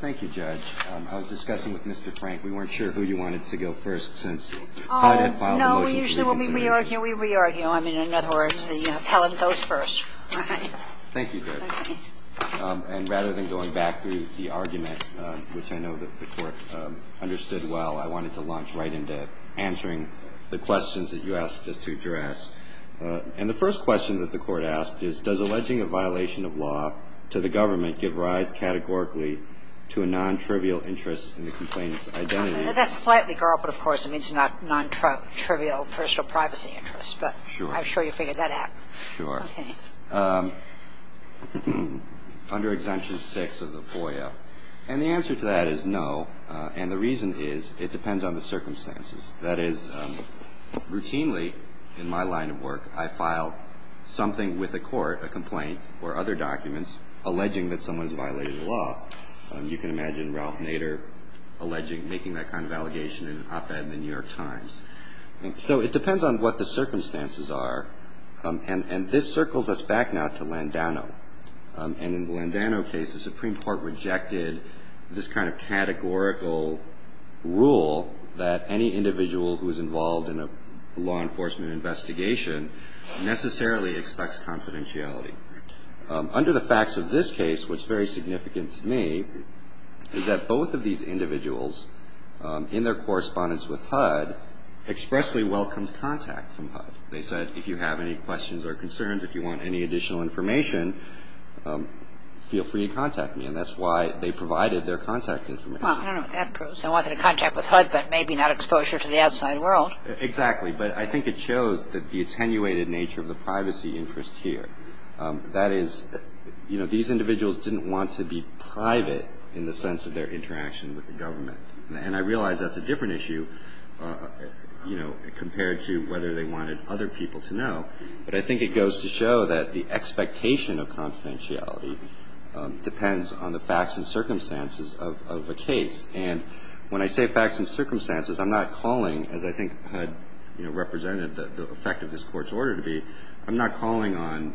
Thank you, Judge. I was discussing with Mr. Frank. We weren't sure who you wanted to go first since HUD had filed a motion for reconsideration. No, we usually re-argue. We re-argue. I mean, in other words, Helen goes first. Thank you, Judge. And rather than going back through the argument, which I know the Court understood well, I wanted to launch right into answering the questions that you asked us to address. And the first question that the Court asked is, does alleging a violation of law to the government give rise categorically to a non-trivial interest in the complainant's identity? That's slightly garbled, of course. It means not non-trivial personal privacy interests. But I'm sure you figured that out. Sure. Okay. Under Exemption 6 of the FOIA. And the answer to that is no. And the reason is it depends on the circumstances. That is, routinely in my line of work, I file something with a court, a complaint or other documents, alleging that someone's violated the law. You can imagine Ralph Nader alleging, making that kind of allegation in an op-ed in the New York Times. So it depends on what the circumstances are. And this circles us back now to Landano. And in the Landano case, the Supreme Court rejected this kind of categorical rule that any individual who is involved in a law enforcement investigation necessarily expects confidentiality. Under the facts of this case, what's very significant to me is that both of these individuals, in their correspondence with HUD, expressly welcomed contact from HUD. They said, if you have any questions or concerns, if you want any additional information, feel free to contact me. And that's why they provided their contact information. Well, I don't know what that proves. They wanted contact with HUD, but maybe not exposure to the outside world. Exactly. But I think it shows the attenuated nature of the privacy interest here. That is, you know, these individuals didn't want to be private in the sense of their interaction with the government. And I realize that's a different issue, you know, compared to whether they wanted other people to know. But I think it goes to show that the expectation of confidentiality depends on the facts and circumstances of a case. And when I say facts and circumstances, I'm not calling, as I think HUD, you know, represented the effect of this Court's order to be, I'm not calling on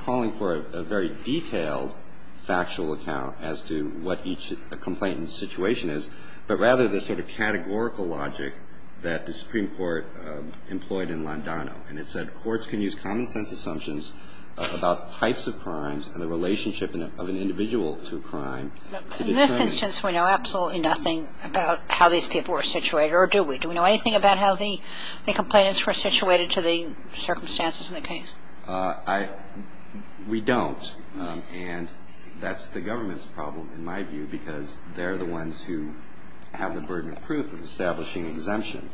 calling for a very detailed factual account as to what each complainant's situation is, but rather the sort of categorical logic that the Supreme Court employed in Londano. And it said courts can use common-sense assumptions about types of crimes and the relationship of an individual to a crime to determine. In this instance, we know absolutely nothing about how these people were situated, or do we? Do we know anything about how the complainants were situated to the circumstances of the case? We don't. And that's the government's problem, in my view, because they're the ones who have the burden of proof of establishing exemptions,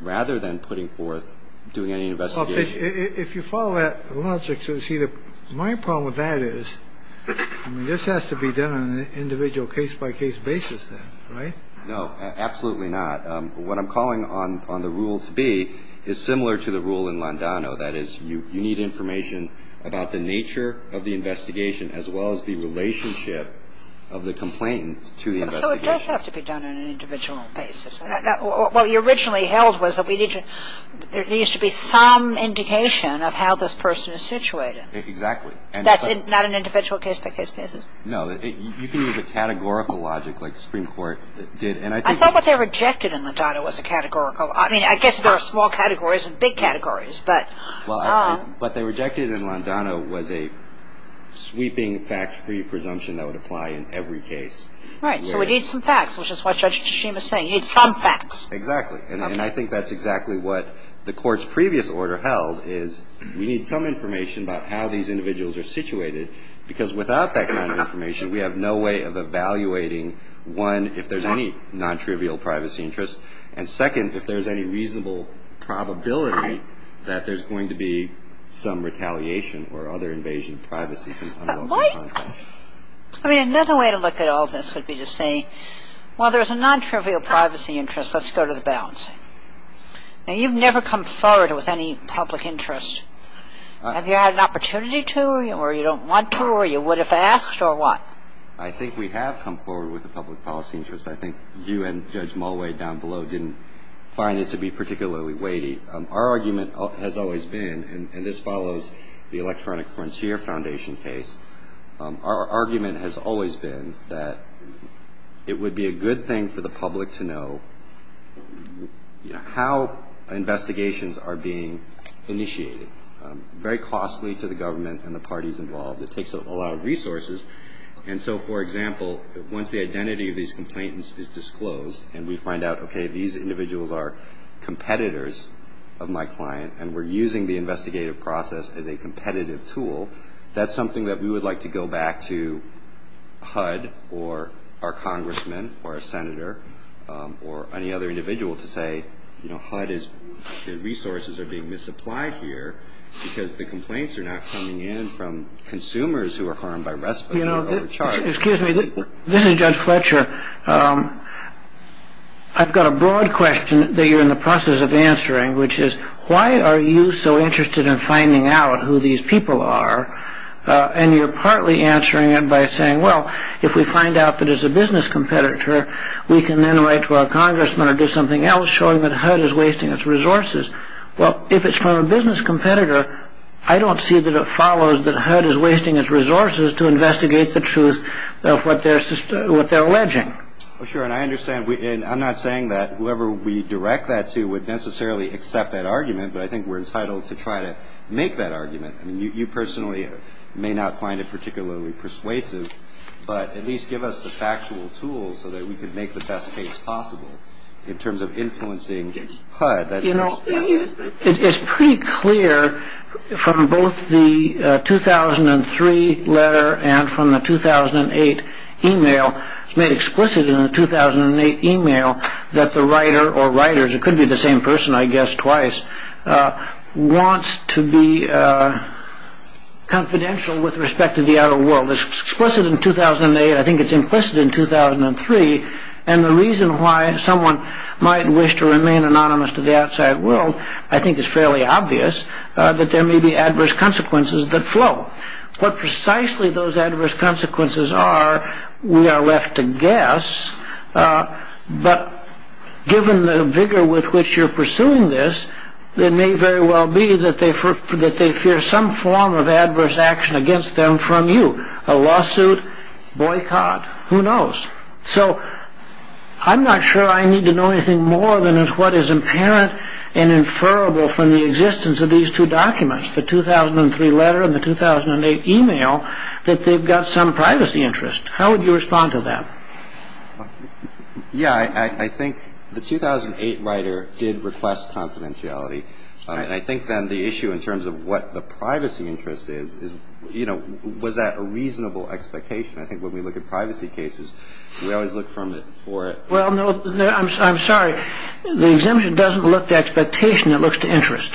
rather than putting forth doing any investigation. If you follow that logic, you'll see that my problem with that is, I mean, this has to be done on an individual case-by-case basis then, right? No, absolutely not. What I'm calling on the rule to be is similar to the rule in Londano. That is, you need information about the nature of the investigation, as well as the relationship of the complainant to the investigation. So it does have to be done on an individual basis. What you originally held was that we need to – there needs to be some indication of how this person is situated. Exactly. That's not an individual case-by-case basis? No. You can use a categorical logic like the Supreme Court did. I thought what they rejected in Londano was a categorical – I mean, I guess there are small categories and big categories, but – Well, what they rejected in Londano was a sweeping, fact-free presumption that would apply in every case. Right. So we need some facts, which is what Judge Tshishima is saying. You need some facts. Exactly. And I think that's exactly what the Court's previous order held, is we need some information about how these individuals are situated, because without that kind of information, we have no way of evaluating, one, if there's any non-trivial privacy interests, and second, if there's any reasonable probability that there's going to be some retaliation or other invasion of privacy from unlawful contact. But what – I mean, another way to look at all this would be to say, while there's a non-trivial privacy interest, let's go to the bouncing. Now, you've never come forward with any public interest. Have you had an opportunity to, or you don't want to, or you would if asked, or what? I think we have come forward with a public policy interest. I think you and Judge Mulway down below didn't find it to be particularly weighty. Our argument has always been, and this follows the Electronic Frontier Foundation case, our argument has always been that it would be a good thing for the public to know how investigations are being initiated. Very costly to the government and the parties involved. It takes up a lot of resources. And so, for example, once the identity of these complainants is disclosed and we find out, okay, these individuals are competitors of my client and we're using the investigative process as a competitive tool, that's something that we would like to go back to HUD or our congressmen or a senator or any other individual to say, you know, HUD's resources are being misapplied here because the complaints are not coming in from consumers who are harmed by respite or overcharge. Excuse me. This is Judge Fletcher. I've got a broad question that you're in the process of answering, which is why are you so interested in finding out who these people are? And you're partly answering it by saying, well, if we find out that it's a business competitor, we can then write to our congressmen or do something else showing that HUD is wasting its resources. Well, if it's from a business competitor, I don't see that it follows that HUD is wasting its resources to investigate the truth of what they're alleging. Sure, and I understand. And I'm not saying that whoever we direct that to would necessarily accept that argument, but I think we're entitled to try to make that argument. I mean, you personally may not find it particularly persuasive, but at least give us the factual tools so that we could make the best case possible in terms of influencing HUD. You know, it's pretty clear from both the 2003 letter and from the 2008 email, it's made explicit in the 2008 email that the writer or writers, it could be the same person, I guess, twice, wants to be confidential with respect to the outer world. It's explicit in 2008. I think it's implicit in 2003. And the reason why someone might wish to remain anonymous to the outside world, I think is fairly obvious that there may be adverse consequences that flow. What precisely those adverse consequences are, we are left to guess. But given the vigor with which you're pursuing this, it may very well be that they fear some form of adverse action against them from you. A lawsuit, boycott, who knows. So I'm not sure I need to know anything more than what is apparent and inferable from the existence of these two documents, the 2003 letter and the 2008 email, that they've got some privacy interest. How would you respond to that? Yeah, I think the 2008 writer did request confidentiality. I think then the issue in terms of what the privacy interest is, you know, was that a reasonable expectation? I think when we look at privacy cases, we always look for it. Well, no, I'm sorry. The exemption doesn't look at the expectation, it looks to interest.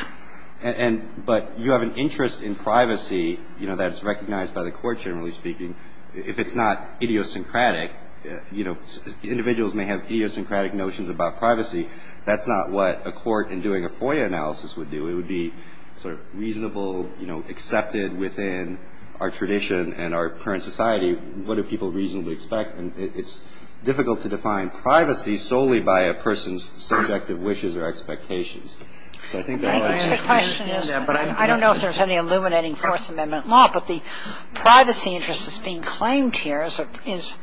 But you have an interest in privacy, you know, that's recognized by the court, generally speaking. If it's not idiosyncratic, you know, individuals may have idiosyncratic notions about privacy. That's not what a court in doing a FOIA analysis would do. It would be sort of reasonable, you know, accepted within our tradition and our current society. What do people reasonably expect? And it's difficult to define privacy solely by a person's subjective wishes or expectations. So I think that'll answer your question. I don't know if there's any illuminating Fourth Amendment law, but the privacy interest that's being claimed here is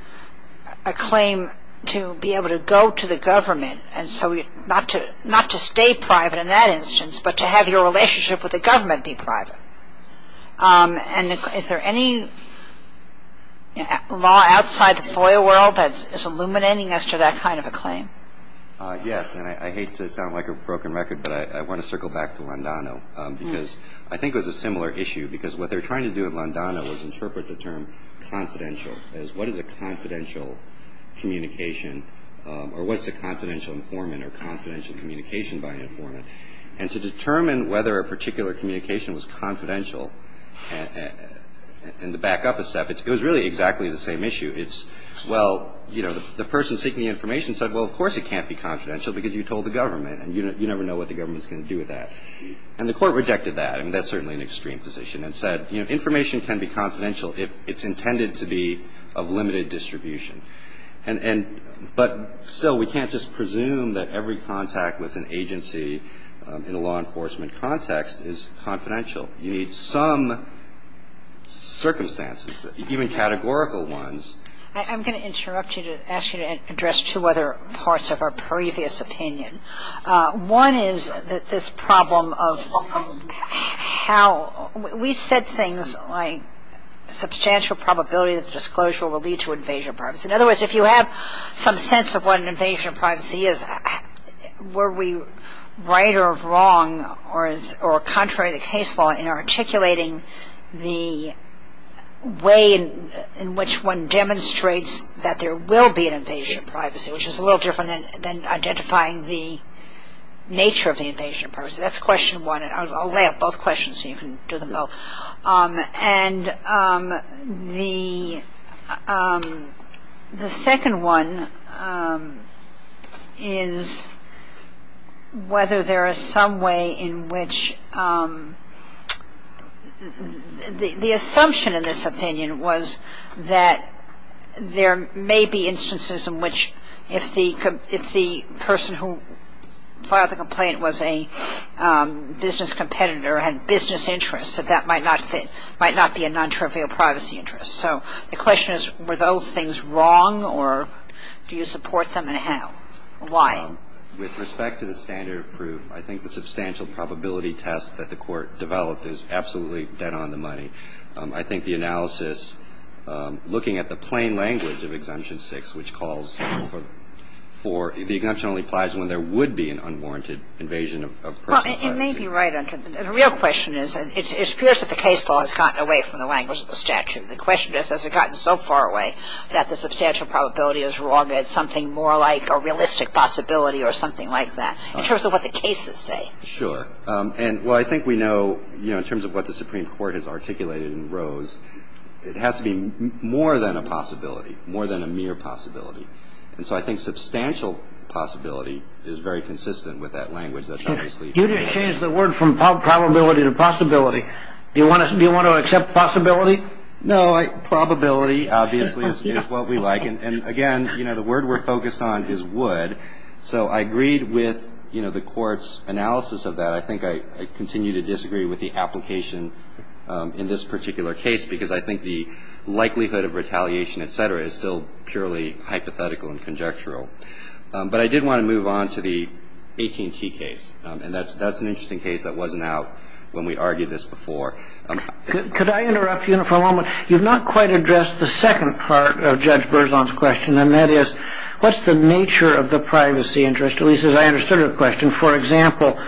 a claim to be able to go to the government, and so not to stay private in that instance, but to have your relationship with the government be private. And is there any law outside the FOIA world that is illuminating as to that kind of a claim? Yes. And I hate to sound like a broken record, but I want to circle back to Londano, because I think it was a similar issue, because what they were trying to do in Londano was interpret the term confidential, as what is a confidential communication or what's a confidential informant or confidential communication by an informant. And to determine whether a particular communication was confidential and to back up a step, it was really exactly the same issue. It's, well, you know, the person seeking the information said, well, of course it can't be confidential because you told the government, and you never know what the government's going to do with that. And the Court rejected that. I mean, that's certainly an extreme position and said, you know, information can be confidential if it's intended to be of limited distribution. And so we can't just presume that every contact with an agency in a law enforcement context is confidential. You need some circumstances, even categorical ones. I'm going to interrupt you to ask you to address two other parts of our previous opinion. One is that this problem of how we said things like substantial probability that the disclosure will lead to invasion of privacy. In other words, if you have some sense of what an invasion of privacy is, were we right or wrong or contrary to case law in articulating the way in which one demonstrates that there will be an invasion of privacy, which is a little different than identifying the nature of the invasion of privacy. That's question one. I'll lay out both questions so you can do them both. And the second one is whether there is some way in which the assumption in this opinion was that there may be instances in which if the person who filed the complaint was a business competitor or had business interests that that might not be a non-trivial privacy interest. So the question is were those things wrong or do you support them and how? Why? With respect to the standard of proof, I think the substantial probability test that the Court developed is absolutely dead on the money. I think the analysis looking at the plain language of Exemption 6, which calls for the exemption only applies when there would be an unwarranted invasion of personal privacy. Well, it may be right. The real question is it appears that the case law has gotten away from the language of the statute. The question is has it gotten so far away that the substantial probability is wrong and it's something more like a realistic possibility or something like that in terms of what the cases say. Sure. And, well, I think we know, you know, in terms of what the Supreme Court has articulated in Rose, it has to be more than a possibility, more than a mere possibility. And so I think substantial possibility is very consistent with that language. That's obviously true. You just changed the word from probability to possibility. Do you want to accept possibility? No. Probability, obviously, is what we like. And, again, you know, the word we're focused on is would. So I agreed with, you know, the Court's analysis of that. I think I continue to disagree with the application in this particular case because I think the likelihood of retaliation, et cetera, is still purely hypothetical and conjectural. But I did want to move on to the AT&T case. And that's an interesting case that wasn't out when we argued this before. Could I interrupt you for a moment? You've not quite addressed the second part of Judge Berzon's question, and that is what's the nature of the privacy interest, at least as I understood her question? For example,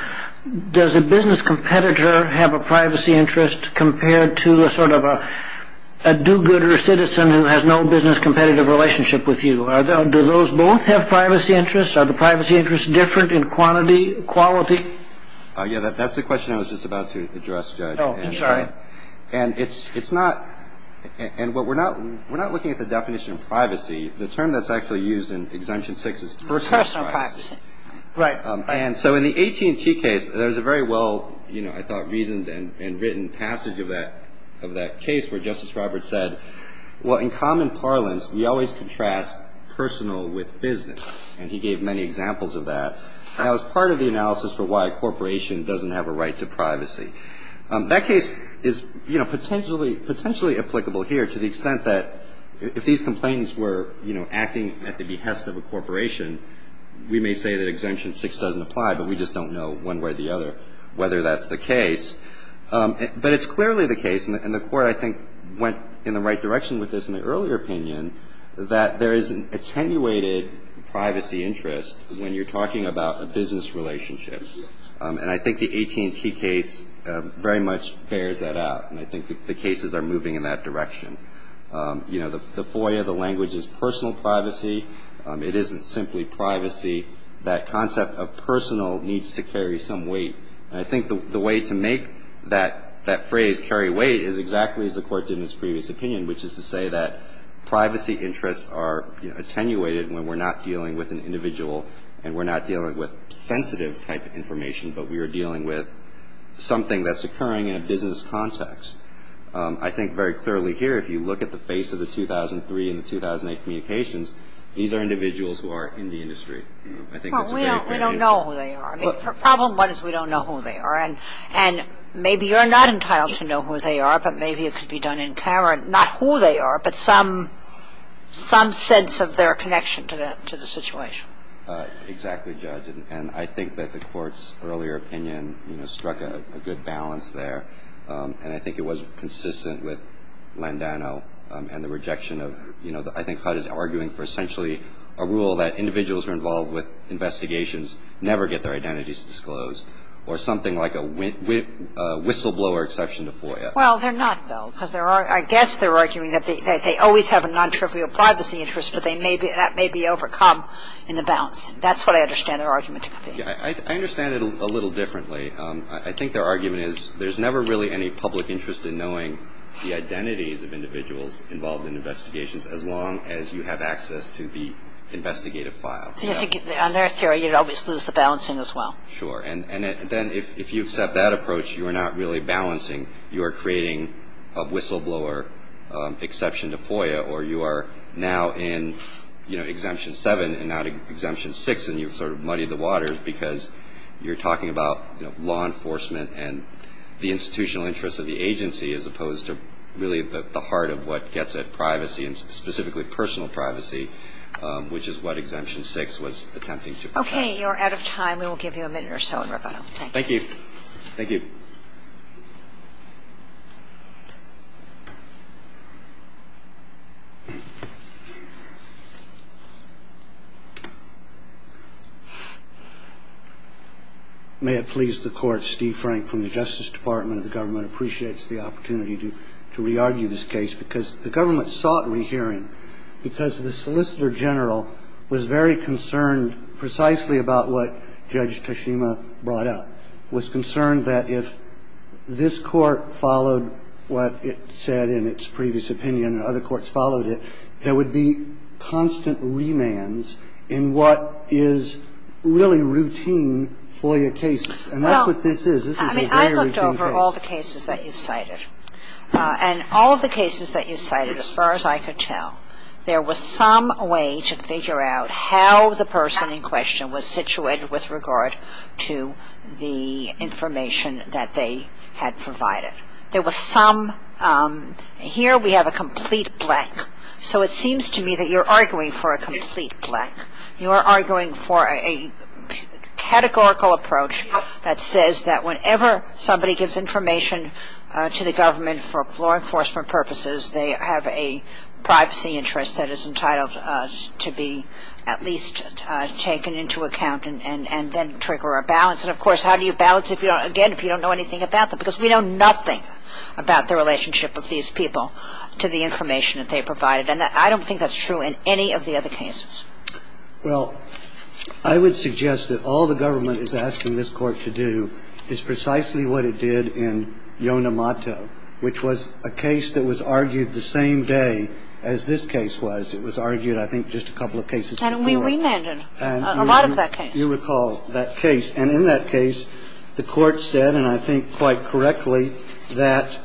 does a business competitor have a privacy interest compared to a sort of a do-gooder citizen who has no business competitive relationship with you? Do those both have privacy interests? Are the privacy interests different in quantity, quality? Yeah, that's the question I was just about to address, Judge. Oh, I'm sorry. And it's not – and what we're not – we're not looking at the definition of privacy. Personal privacy. Right. And so in the AT&T case, there's a very well, you know, I thought, reasoned and written passage of that case where Justice Roberts said, well, in common parlance, we always contrast personal with business. And he gave many examples of that as part of the analysis for why a corporation doesn't have a right to privacy. That case is, you know, potentially applicable here to the extent that if these complainants were, you know, say that Exemption 6 doesn't apply, but we just don't know one way or the other whether that's the case. But it's clearly the case, and the Court, I think, went in the right direction with this in the earlier opinion, that there is an attenuated privacy interest when you're talking about a business relationship. And I think the AT&T case very much bears that out, and I think the cases are moving in that direction. You know, the FOIA, the language is personal privacy. It isn't simply privacy. That concept of personal needs to carry some weight. And I think the way to make that phrase carry weight is exactly as the Court did in its previous opinion, which is to say that privacy interests are attenuated when we're not dealing with an individual and we're not dealing with sensitive type of information, but we are dealing with something that's occurring in a business context. I think very clearly here, if you look at the face of the 2003 and the 2008 communications, these are individuals who are in the industry. I think that's a very clear distinction. Well, we don't know who they are. I mean, problem one is we don't know who they are. And maybe you're not entitled to know who they are, but maybe it could be done in Cameron, not who they are, but some sense of their connection to the situation. Exactly, Judge. And I think that the Court's earlier opinion, you know, struck a good balance there, and I think it was consistent with Landano and the rejection of, you know, I think HUD is arguing for essentially a rule that individuals who are involved with investigations never get their identities disclosed or something like a whistleblower exception to FOIA. Well, they're not, though, because I guess they're arguing that they always have a non-trivial privacy interest, but that may be overcome in the balance. That's what I understand their argument to be. I understand it a little differently. I think their argument is there's never really any public interest in knowing the identities of individuals involved in investigations as long as you have access to the investigative file. On their theory, you'd always lose the balancing as well. Sure. And then if you accept that approach, you are not really balancing. You are creating a whistleblower exception to FOIA, or you are now in, you know, Exemption 7 and not Exemption 6, and you've sort of muddied the waters because you're talking about law enforcement and the institutional interests of the agency as opposed to really the heart of what gets at privacy and specifically personal privacy, which is what Exemption 6 was attempting to protect. Okay. You're out of time. We will give you a minute or so in rebuttal. Thank you. Thank you. Thank you. May it please the Court, Steve Frank from the Justice Department of the government appreciates the opportunity to re-argue this case because the government sought re-hearing because the Solicitor General was very concerned precisely about what Judge Toshima brought up, was concerned that if this Court followed what it said in its previous opinion and other courts followed it, there would be constant remands in what is really routine FOIA cases. And that's what this is. This is a very routine case. Well, I mean, I looked over all the cases that you cited. And all of the cases that you cited, as far as I could tell, there was some way to figure out how the person in question was situated with regard to the information that they had provided. There was some, here we have a complete blank. So it seems to me that you're arguing for a complete blank. You are arguing for a categorical approach that says that whenever somebody gives information to the government for law enforcement purposes, they have a privacy interest that is entitled to be at least taken into account and then trigger a balance. And, of course, how do you balance, again, if you don't know anything about them? Because we know nothing about the relationship of these people to the information that they provided. And I don't think that's true in any of the other cases. Well, I would suggest that all the government is asking this Court to do is precisely what it did in Yonemato, which was a case that was argued the same day as this case was. It was argued, I think, just a couple of cases before that. And we remanded a lot of that case. You recall that case. And in that case, the Court said, and I think quite correctly, that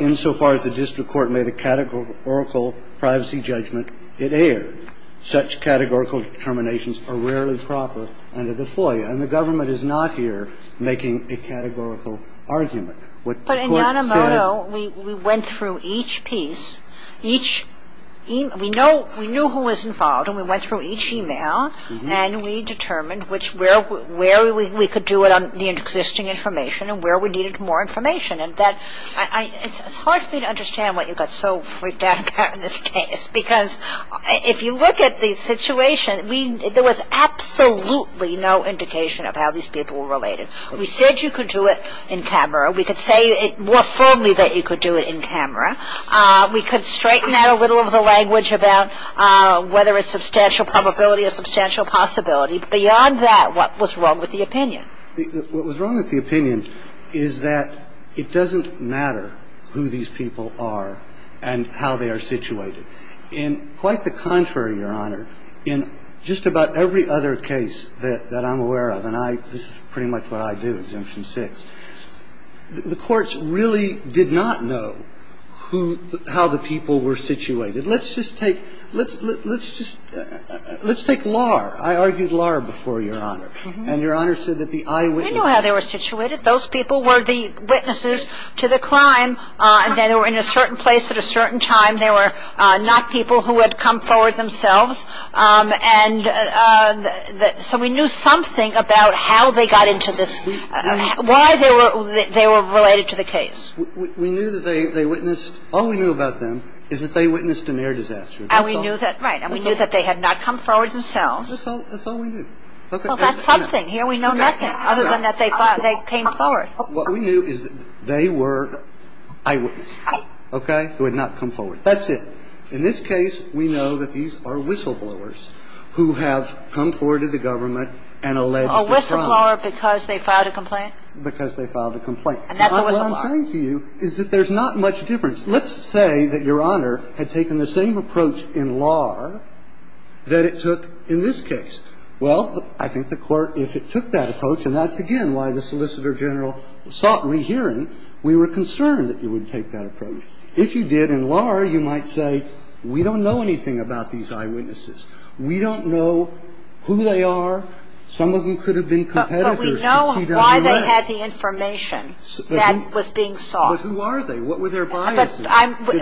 insofar as the district court made a categorical privacy judgment, it erred. Such categorical determinations are rarely proper under the FOIA. And the government is not here making a categorical argument. But in Yonemato, we went through each piece, each email. We knew who was involved. And we went through each email. And we determined where we could do it on the existing information and where we needed more information. And it's hard for me to understand what you got so freaked out about in this case, because if you look at the situation, there was absolutely no indication of how these people were related. We said you could do it in camera. We could say more firmly that you could do it in camera. We could straighten out a little of the language about whether it's substantial probability or substantial possibility. Beyond that, what was wrong with the opinion? What was wrong with the opinion is that it doesn't matter who these people are and how they are situated. In quite the contrary, Your Honor, in just about every other case that I'm aware of, and this is pretty much what I do, Exemption 6, the courts really did not know who the – how the people were situated. Let's just take – let's just – let's take Lahr. I argued Lahr before Your Honor. And Your Honor said that the eyewitnesses – We knew how they were situated. Those people were the witnesses to the crime. They were in a certain place at a certain time. They were not people who had come forward themselves. And so we knew something about how they got into this – why they were – they were related to the case. We knew that they witnessed – all we knew about them is that they witnessed a near disaster. And we knew that – right. And we knew that they had not come forward themselves. That's all – that's all we knew. Well, that's something. Here we know nothing other than that they came forward. What we knew is that they were eyewitness, okay, who had not come forward. That's it. In this case, we know that these are whistleblowers who have come forward to the government and alleged the crime. A whistleblower because they filed a complaint? Because they filed a complaint. And that's a whistleblower. What I'm saying to you is that there's not much difference. Let's say that Your Honor had taken the same approach in Lahr that it took in this case. Well, I think the Court, if it took that approach, and that's, again, why the Solicitor General sought rehearing, we were concerned that you would take that approach. If you did, in Lahr, you might say, we don't know anything about these eyewitnesses. We don't know who they are. Some of them could have been competitors to TWA. But we know why they had the information that was being sought. But who are they? What were their biases? Did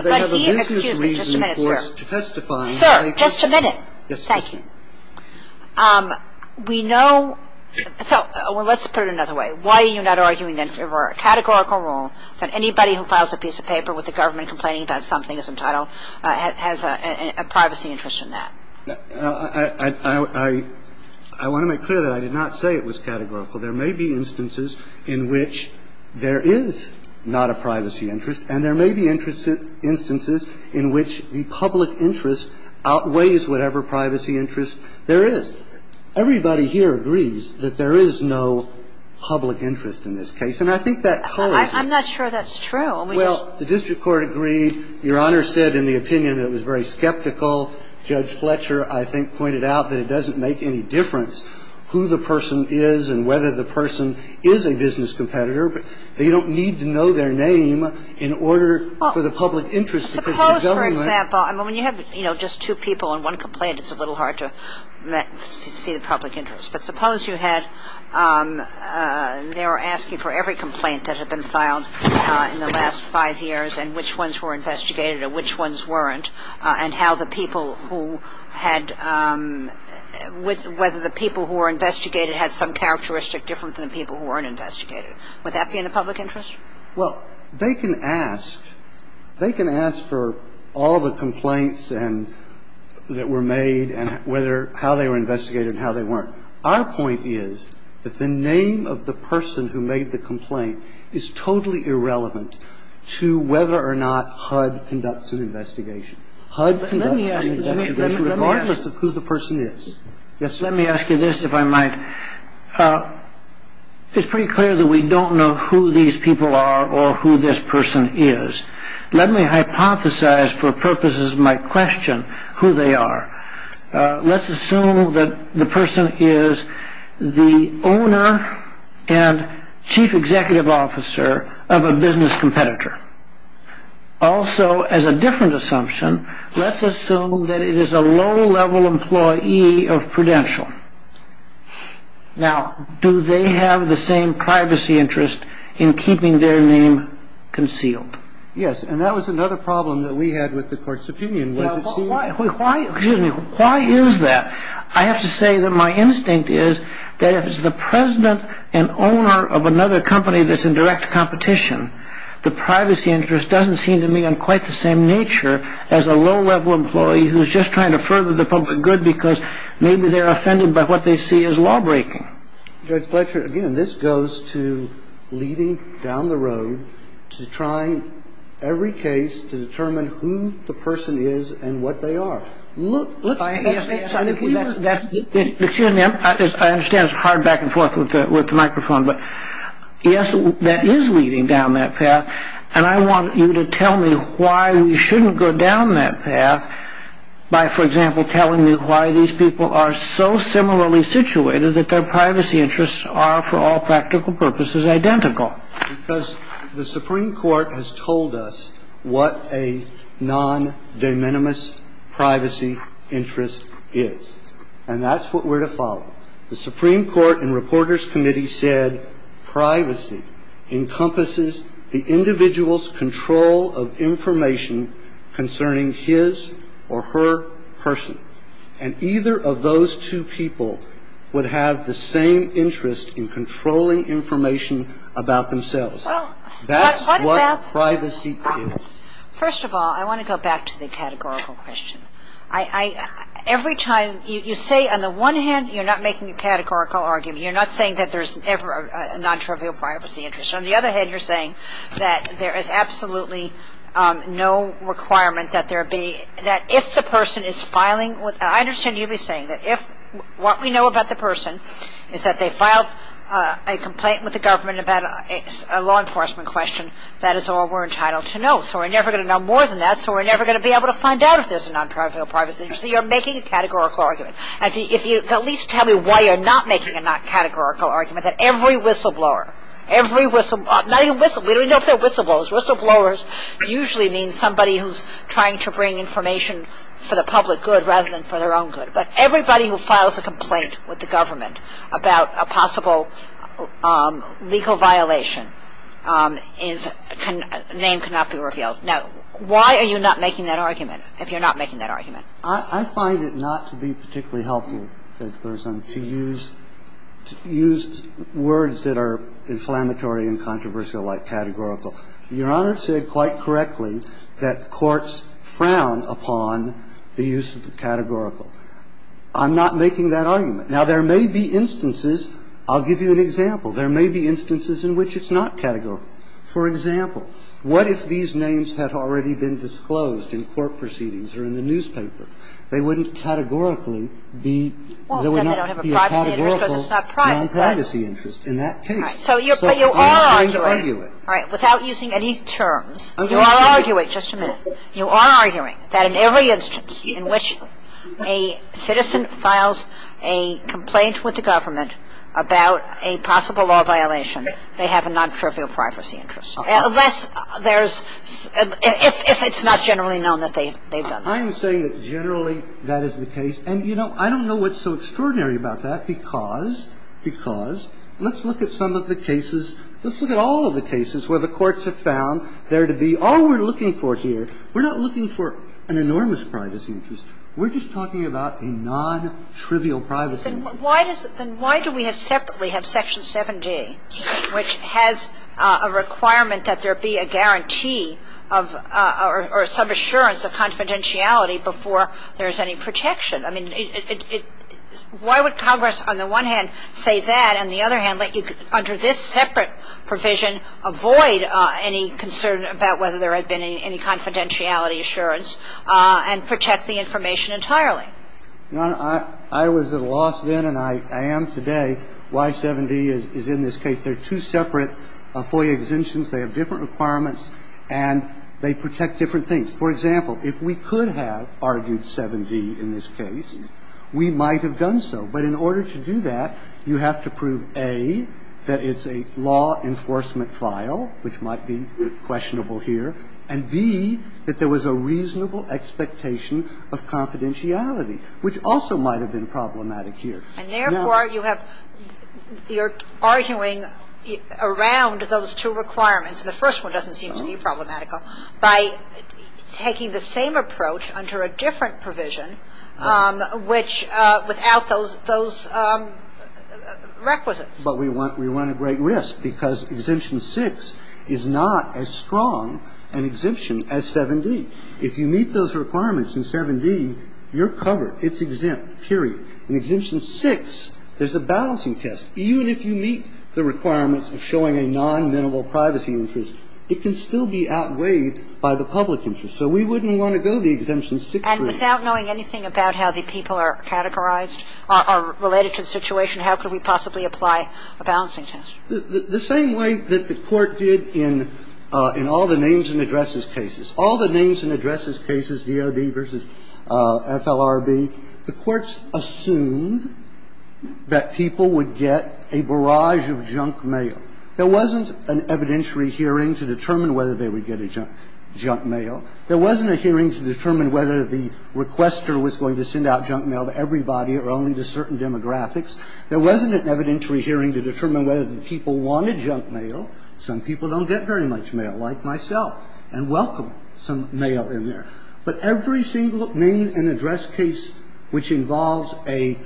they have a business reason for testifying? Sir, just a minute. Thank you. We know – so let's put it another way. We know that the Solicitor General has a business reason for filing a complaint. Why are you not arguing then for a categorical rule that anybody who files a piece of paper with the government complaining about something as entitled has a privacy interest in that? I want to make clear that I did not say it was categorical. There may be instances in which there is not a privacy interest, and there may be instances in which the public interest outweighs whatever privacy interest there is. Everybody here agrees that there is no public interest in this case. And I think that colors it. I'm not sure that's true. Well, the district court agreed. Your Honor said in the opinion it was very skeptical. Judge Fletcher, I think, pointed out that it doesn't make any difference who the person is and whether the person is a business competitor. You don't need to know their name in order for the public interest. Suppose, for example – I mean, when you have, you know, just two people on one complaint, it's a little hard to see the public interest. But suppose you had – they were asking for every complaint that had been filed in the last five years and which ones were investigated and which ones weren't, and how the people who had – whether the people who were investigated had some characteristic different than the people who weren't investigated. Would that be in the public interest? Well, they can ask. They can ask for all the complaints and – that were made and whether – how they were investigated and how they weren't. Our point is that the name of the person who made the complaint is totally irrelevant to whether or not HUD conducts an investigation. HUD conducts an investigation regardless of who the person is. Let me ask you this, if I might. It's pretty clear that we don't know who these people are or who this person is. Let me hypothesize for purposes of my question who they are. Let's assume that the person is the owner and chief executive officer of a business competitor. Also, as a different assumption, let's assume that it is a low-level employee of Prudential. Now, do they have the same privacy interest in keeping their name concealed? Yes, and that was another problem that we had with the court's opinion. Why is that? I have to say that my instinct is that if it's the president and owner of another company that's in direct competition, the privacy interest doesn't seem to me on quite the same nature as a low-level employee who's just trying to further the public good because maybe they're offended by what they see as law-breaking. Judge Fletcher, again, this goes to leading down the road to trying every case to determine who the person is and what they are. Look – Excuse me, I understand it's hard back and forth with the microphone, but yes, that is leading down that path, and I want you to tell me why we shouldn't go down that path by, for example, telling me why these people are so similarly situated that their privacy interests are, for all practical purposes, identical. Well, because the Supreme Court has told us what a non-de minimis privacy interest is, and that's what we're to follow. The Supreme Court and Reporters Committee said privacy encompasses the individual's control of information concerning his or her person, and either of those two people would have the same interest in controlling information about themselves. That's what privacy is. First of all, I want to go back to the categorical question. Every time – you say on the one hand you're not making a categorical argument, you're not saying that there's a non-trivial privacy interest. On the other hand, you're saying that there is absolutely no requirement that there be – that if the person is filing – I understand you'd be saying that if what we know about the person is that they filed a complaint with the government about a law enforcement question, that is all we're entitled to know. So we're never going to know more than that, so we're never going to be able to find out if there's a non-trivial privacy interest. So you're making a categorical argument. If you could at least tell me why you're not making a non-categorical argument, that every whistleblower – not even whistleblowers, we don't even know if they're whistleblowers. Whistleblowers usually mean somebody who's trying to bring information for the public good rather than for their own good. But everybody who files a complaint with the government about a possible legal violation is – name cannot be revealed. Now, why are you not making that argument, if you're not making that argument? I find it not to be particularly helpful to use words that are inflammatory and controversial like categorical. Your Honor said quite correctly that courts frown upon the use of the categorical. I'm not making that argument. Now, there may be instances – I'll give you an example. There may be instances in which it's not categorical. For example, what if these names had already been disclosed in court proceedings or in the newspaper? They wouldn't categorically be – they would not be a categorical non-privacy interest in that case. So you're – but you are arguing. All right. Without using any terms, you are arguing – just a minute. You are arguing that in every instance in which a citizen files a complaint with the government about a possible law violation, they have a non-trivial privacy interest. Unless there's – if it's not generally known that they've done that. I'm saying that generally that is the case. And, you know, I don't know what's so extraordinary about that because – because I'm not saying that there's a non-trivial privacy interest. I'm saying that there's a non-trivial privacy interest. And let's look at some of the cases – let's look at all of the cases where the courts have found there to be – all we're looking for here, we're not looking for an enormous privacy interest. We're just talking about a non-trivial privacy interest. Kagan. Then why does it – then why do we have separately have Section 70, which has a requirement that there be a guarantee of – or some assurance of confidentiality before there is any protection? I mean, it – why would Congress on the one hand say that and the other hand let you, under this separate provision, avoid any concern about whether there had been any confidentiality assurance and protect the information entirely? Your Honor, I was at a loss then and I am today. Why 70 is in this case. Well, it's because there are two separate FOIA exemptions, they have different requirements, and they protect different things. For example, if we could have argued 7D in this case, we might have done so. But in order to do that, you have to prove, A, that it's a law enforcement file, which might be questionable here, and, B, that there was a reasonable expectation of confidentiality, which also might have been problematic here. And therefore, you have – you're arguing around those two requirements. The first one doesn't seem to be problematical. By taking the same approach under a different provision, which – without those requisites. But we want a great risk because Exemption 6 is not as strong an exemption as 7D. If you meet those requirements in 7D, you're covered. It's exempt, period. In Exemption 6, there's a balancing test. Even if you meet the requirements of showing a non-minimal privacy interest, it can still be outweighed by the public interest. So we wouldn't want to go the Exemption 6 route. And without knowing anything about how the people are categorized, are related to the situation, how could we possibly apply a balancing test? The same way that the Court did in all the names and addresses cases. All the names and addresses cases, DOD versus FLRB, the courts assumed that people would get a barrage of junk mail. There wasn't an evidentiary hearing to determine whether they would get a junk mail. There wasn't a hearing to determine whether the requester was going to send out junk mail to everybody or only to certain demographics. There wasn't an evidentiary hearing to determine whether the people wanted junk mail. The courts assumed that people would get a barrage of junk mail. Some people don't get very much mail, like myself, and welcome some mail in there. But every single name and address case which involves a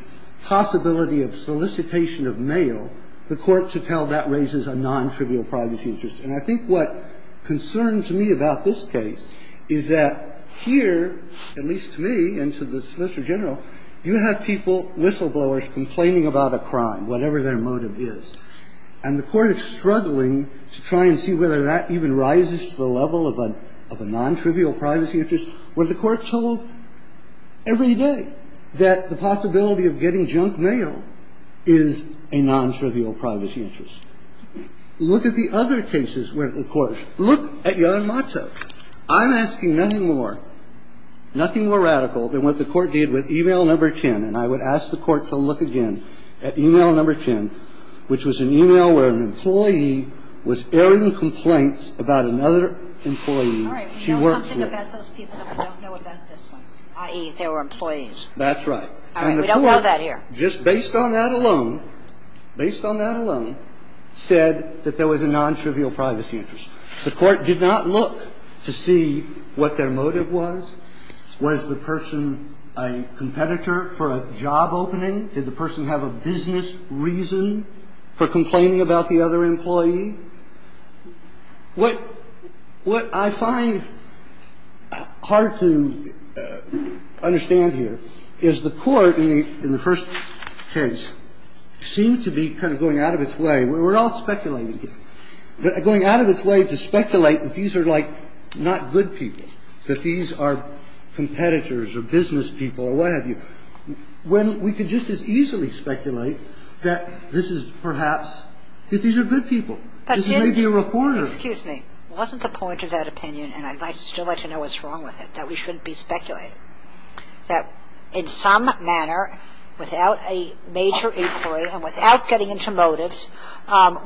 possibility of solicitation of mail, the courts would tell that raises a non-trivial privacy interest. And I think what concerns me about this case is that here, at least to me and to the And I think it's a good thing to try and see whether that even rises to the level of a non-trivial privacy interest, when the Court told every day that the possibility of getting junk mail is a non-trivial privacy interest. Look at the other cases where the Court – look at Yarnmatov. I'm asking nothing more, nothing more radical than what the Court did with e-mail number 10. And I would ask the Court to look again at e-mail number 10, which was an e-mail where an employee was airing complaints about another employee she worked with. All right. We know something about those people that we don't know about this one, i.e. they were employees. That's right. All right. We don't know that here. And the Court, just based on that alone, based on that alone, said that there was a non-trivial privacy interest. The Court did not look to see what their motive was. Was the person a competitor for a job opening? Did the person have a business reason for complaining about the other employee? What I find hard to understand here is the Court, in the first case, seemed to be kind of going out of its way. We're all speculating here. Going out of its way to speculate that these are, like, not good people, that these are competitors or business people or what have you. When we could just as easily speculate that this is perhaps that these are good people, this may be a reporter. Excuse me. Wasn't the point of that opinion, and I'd still like to know what's wrong with it, that we shouldn't be speculating, that in some manner, without a major inquiry and without getting into motives,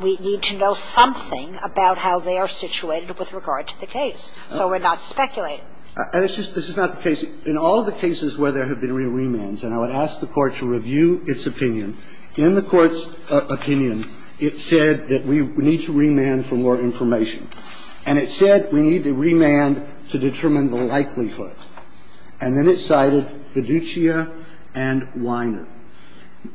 we need to know something about how they are situated with regard to the case so we're not speculating? This is not the case. In all of the cases where there have been remands, and I would ask the Court to review its opinion, in the Court's opinion, it said that we need to remand for more information. And it said we need to remand to determine the likelihood. And then it cited Viduccia and Weiner.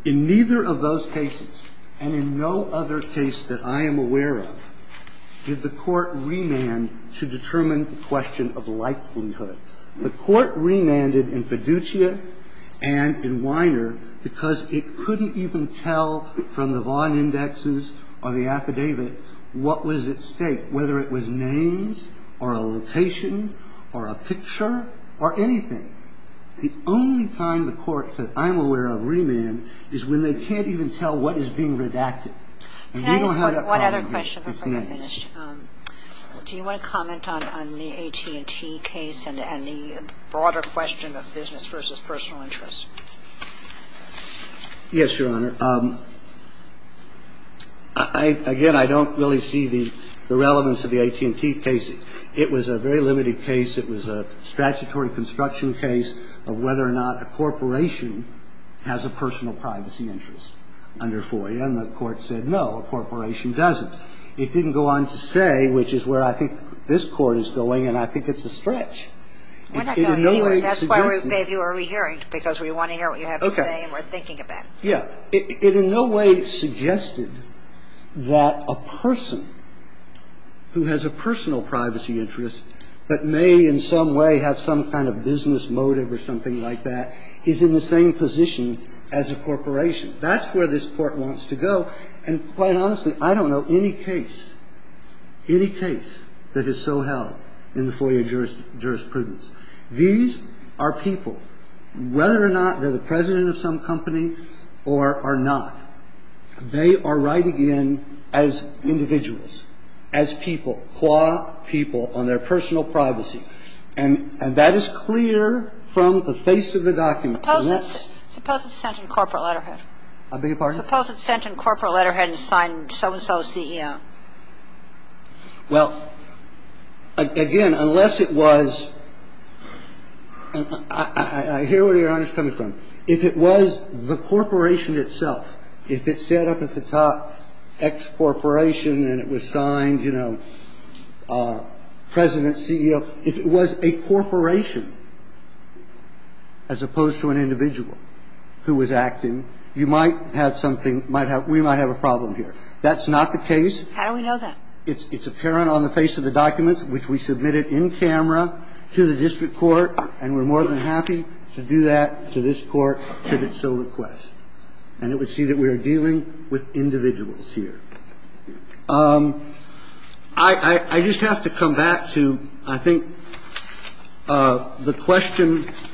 In neither of those cases, and in no other case that I am aware of, did the Court remand to determine the question of likelihood. The Court remanded in Viduccia and in Weiner because it couldn't even tell from the Vaughan indexes or the affidavit what was at stake, whether it was names or a location or a picture or anything. The only time the Court said, I'm aware of remand, is when they can't even tell what is being redacted. And we don't have that problem here. It's in that case. Do you want to comment on the AT&T case and the broader question of business versus personal interest? Yes, Your Honor. Again, I don't really see the relevance of the AT&T case. It was a very limited case. It was a statutory construction case of whether or not a corporation has a personal privacy interest under FOIA. And the Court said, no, a corporation doesn't. It didn't go on to say, which is where I think this Court is going, and I think it's a stretch. We're not going anywhere. That's why we're rehearing, because we want to hear what you have to say and we're thinking about it. But, yeah, it in no way suggested that a person who has a personal privacy interest that may in some way have some kind of business motive or something like that is in the same position as a corporation. That's where this Court wants to go. And quite honestly, I don't know any case, any case that is so held in the FOIA jurisprudence. These are people. Whether or not they're the president of some company or are not, they are writing in as individuals, as people, FOIA people on their personal privacy. And that is clear from the face of the document. Unless ---- Suppose it's sent in corporate letterhead. I beg your pardon? Suppose it's sent in corporate letterhead and signed so-and-so CEO. Well, again, unless it was ---- I hear where Your Honor is coming from. If it was the corporation itself, if it said up at the top, ex-corporation and it was signed, you know, president, CEO, if it was a corporation as opposed to an individual who was acting, you might have something ---- we might have a problem here. That's not the case. How do we know that? It's apparent on the face of the documents, which we submitted in camera to the district court, and we're more than happy to do that to this Court should it so request. And it would see that we are dealing with individuals here. I just have to come back to, I think, the question ----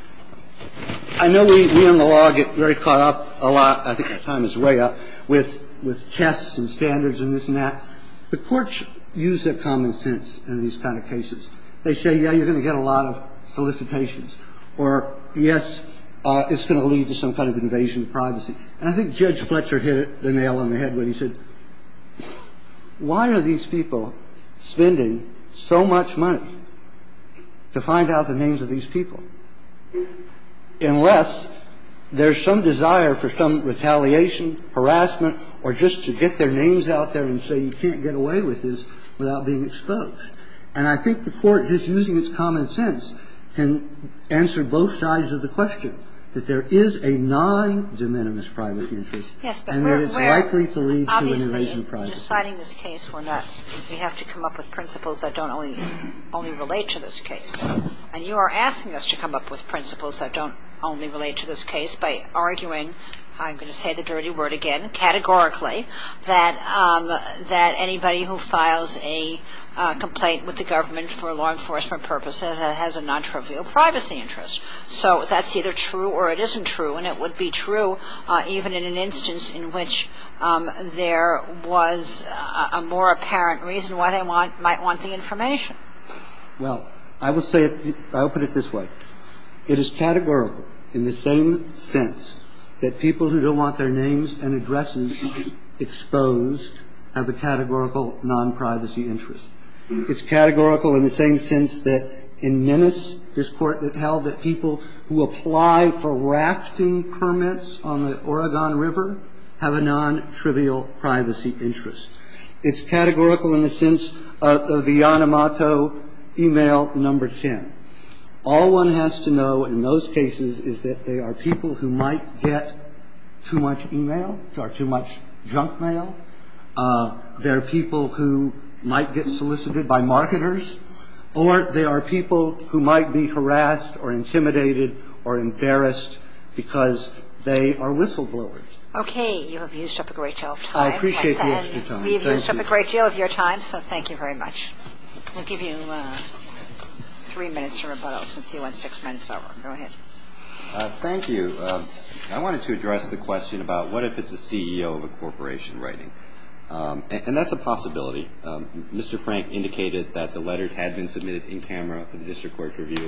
I know we in the law get very caught up a lot. I think our time is way up with tests and standards and this and that. The courts use their common sense in these kind of cases. They say, yeah, you're going to get a lot of solicitations, or, yes, it's going to lead to some kind of invasion of privacy. And I think Judge Fletcher hit the nail on the head when he said, why are these people spending so much money to find out the names of these people? Unless there's some desire for some retaliation, harassment, or just to get their names out there and say you can't get away with this without being exposed. And I think the Court, just using its common sense, can answer both sides of the question, that there is a non-de minimis private interest and that it's likely to lead to an invasion of privacy. Obviously, in deciding this case, we're not ---- we have to come up with principles that don't only relate to this case. And you are asking us to come up with principles that don't only relate to this case by arguing, I'm going to say the dirty word again, categorically, that anybody who files a complaint with the government for law enforcement purposes has a non-trivial privacy interest. So that's either true or it isn't true. And it would be true even in an instance in which there was a more apparent reason why they might want the information. Well, I will say it ---- I'll put it this way. It is categorical in the same sense that people who don't want their names and addresses exposed have a categorical non-privacy interest. It's categorical in the same sense that in Nennis, this Court held that people who apply for rafting permits on the Oregon River have a non-trivial privacy interest. It's categorical in the sense of the Yamamoto e-mail number 10. All one has to know in those cases is that there are people who might get too much e-mail or too much junk mail. There are people who might get solicited by marketers. Or there are people who might be harassed or intimidated or embarrassed because they are whistleblowers. Okay. You have used up a great deal of time. I appreciate the extra time. We have used up a great deal of your time, so thank you very much. We'll give you three minutes to rebuttal since you want six minutes over. Go ahead. Thank you. I wanted to address the question about what if it's a CEO of a corporation writing. And that's a possibility. Mr. Frank indicated that the letters had been submitted in camera for the district court's review.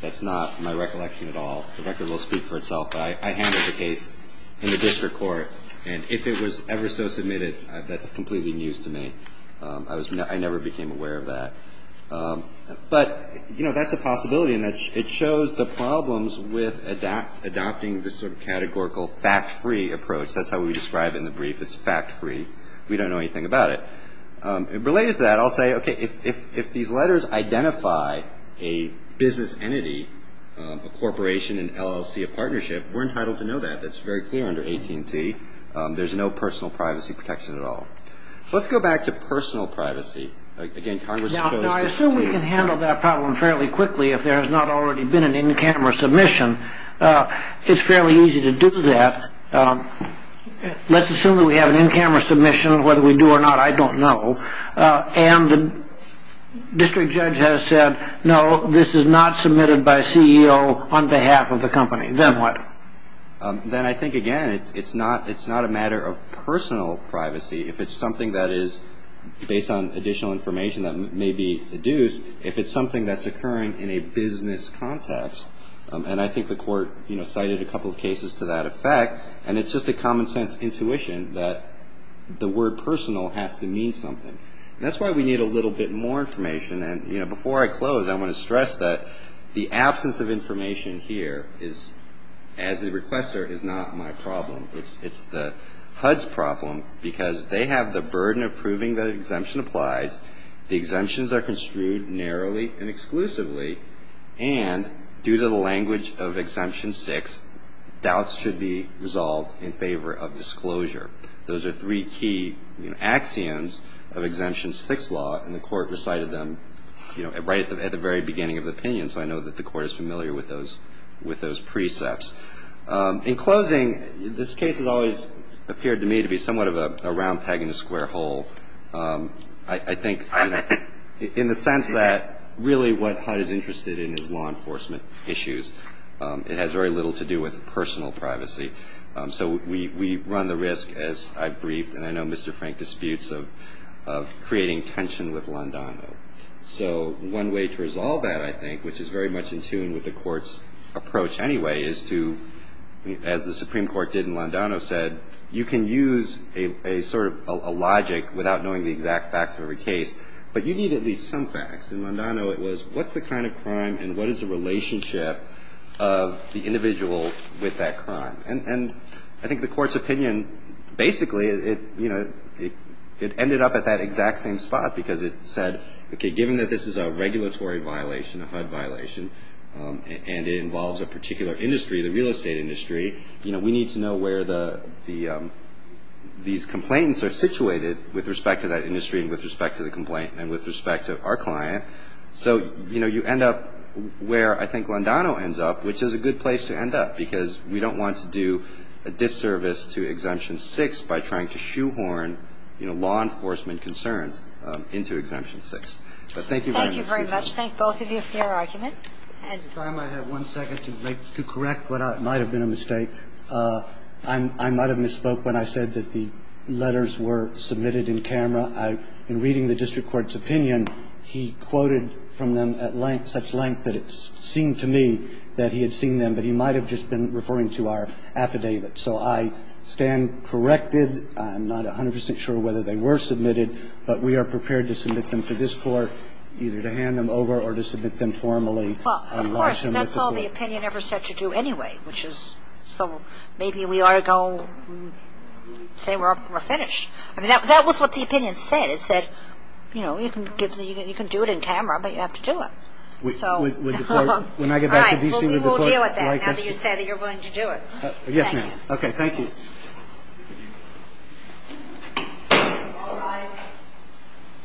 That's not my recollection at all. The record will speak for itself. I handled the case in the district court. And if it was ever so submitted, that's completely news to me. I never became aware of that. But, you know, that's a possibility. And it shows the problems with adopting this sort of categorical fact-free approach. That's how we describe it in the brief. It's fact-free. We don't know anything about it. Related to that, I'll say, okay, if these letters identify a business entity, a corporation, an LLC, a partnership, we're entitled to know that. That's very clear under AT&T. There's no personal privacy protection at all. Let's go back to personal privacy. Again, Congress opposed this case. Now, I assume we can handle that problem fairly quickly if there has not already been an in-camera submission. It's fairly easy to do that. Let's assume that we have an in-camera submission. Whether we do or not, I don't know. And the district judge has said, no, this is not submitted by a CEO on behalf of the company. Then what? Then I think, again, it's not a matter of personal privacy. If it's something that is based on additional information that may be deduced, if it's something that's occurring in a business context, and I think the court, you know, cited a couple of cases to that effect, and it's just a common-sense intuition that the word personal has to mean something. And that's why we need a little bit more information. And, you know, before I close, I want to stress that the absence of information here is, as a requester, is not my problem. It's the HUD's problem because they have the burden of proving that an exemption applies. The exemptions are construed narrowly and exclusively. And due to the language of Exemption 6, doubts should be resolved in favor of disclosure. Those are three key axioms of Exemption 6 law, and the court recited them, you know, right at the very beginning of the opinion, so I know that the court is familiar with those precepts. In closing, this case has always appeared to me to be somewhat of a round peg in a square hole. I think, you know, in the sense that really what HUD is interested in is law enforcement issues. It has very little to do with personal privacy. So we run the risk, as I've briefed and I know Mr. Frank disputes, of creating tension with Londano. So one way to resolve that, I think, which is very much in tune with the court's approach anyway, is to, as the Supreme Court did in Londano, said, you can use a sort of a logic without knowing the exact facts of every case, but you need at least some facts. In Londano, it was what's the kind of crime and what is the relationship of the individual with that crime? And I think the court's opinion basically, you know, it ended up at that exact same spot because it said, okay, given that this is a regulatory violation, a HUD violation, and it involves a particular industry, the real estate industry, you know, we need to know where these complaints are situated with respect to that industry and with respect to the complaint and with respect to our client. So, you know, you end up where I think Londano ends up, which is a good place to end up because we don't want to do a disservice to Exemption 6 by trying to shoehorn, you know, law enforcement concerns into Exemption 6. But thank you very much. Thank you very much. Thank both of you for your arguments. I have one second to correct what might have been a mistake. I might have misspoke when I said that the letters were submitted in camera. In reading the district court's opinion, he quoted from them at length, such length that it seemed to me that he had seen them, but he might have just been referring to our affidavit. So I stand corrected. I'm not 100 percent sure whether they were submitted, but we are prepared to submit them to this court either to hand them over or to submit them formally. Well, of course, that's all the opinion ever said to do anyway, which is so maybe we ought to go and say we're finished. I mean, that was what the opinion said. It said, you know, you can do it in camera, but you have to do it. With the court, when I get back to D.C. with the court. All right. Well, we will deal with that now that you say that you're willing to do it. Yes, ma'am. Okay. Thank you. All rise.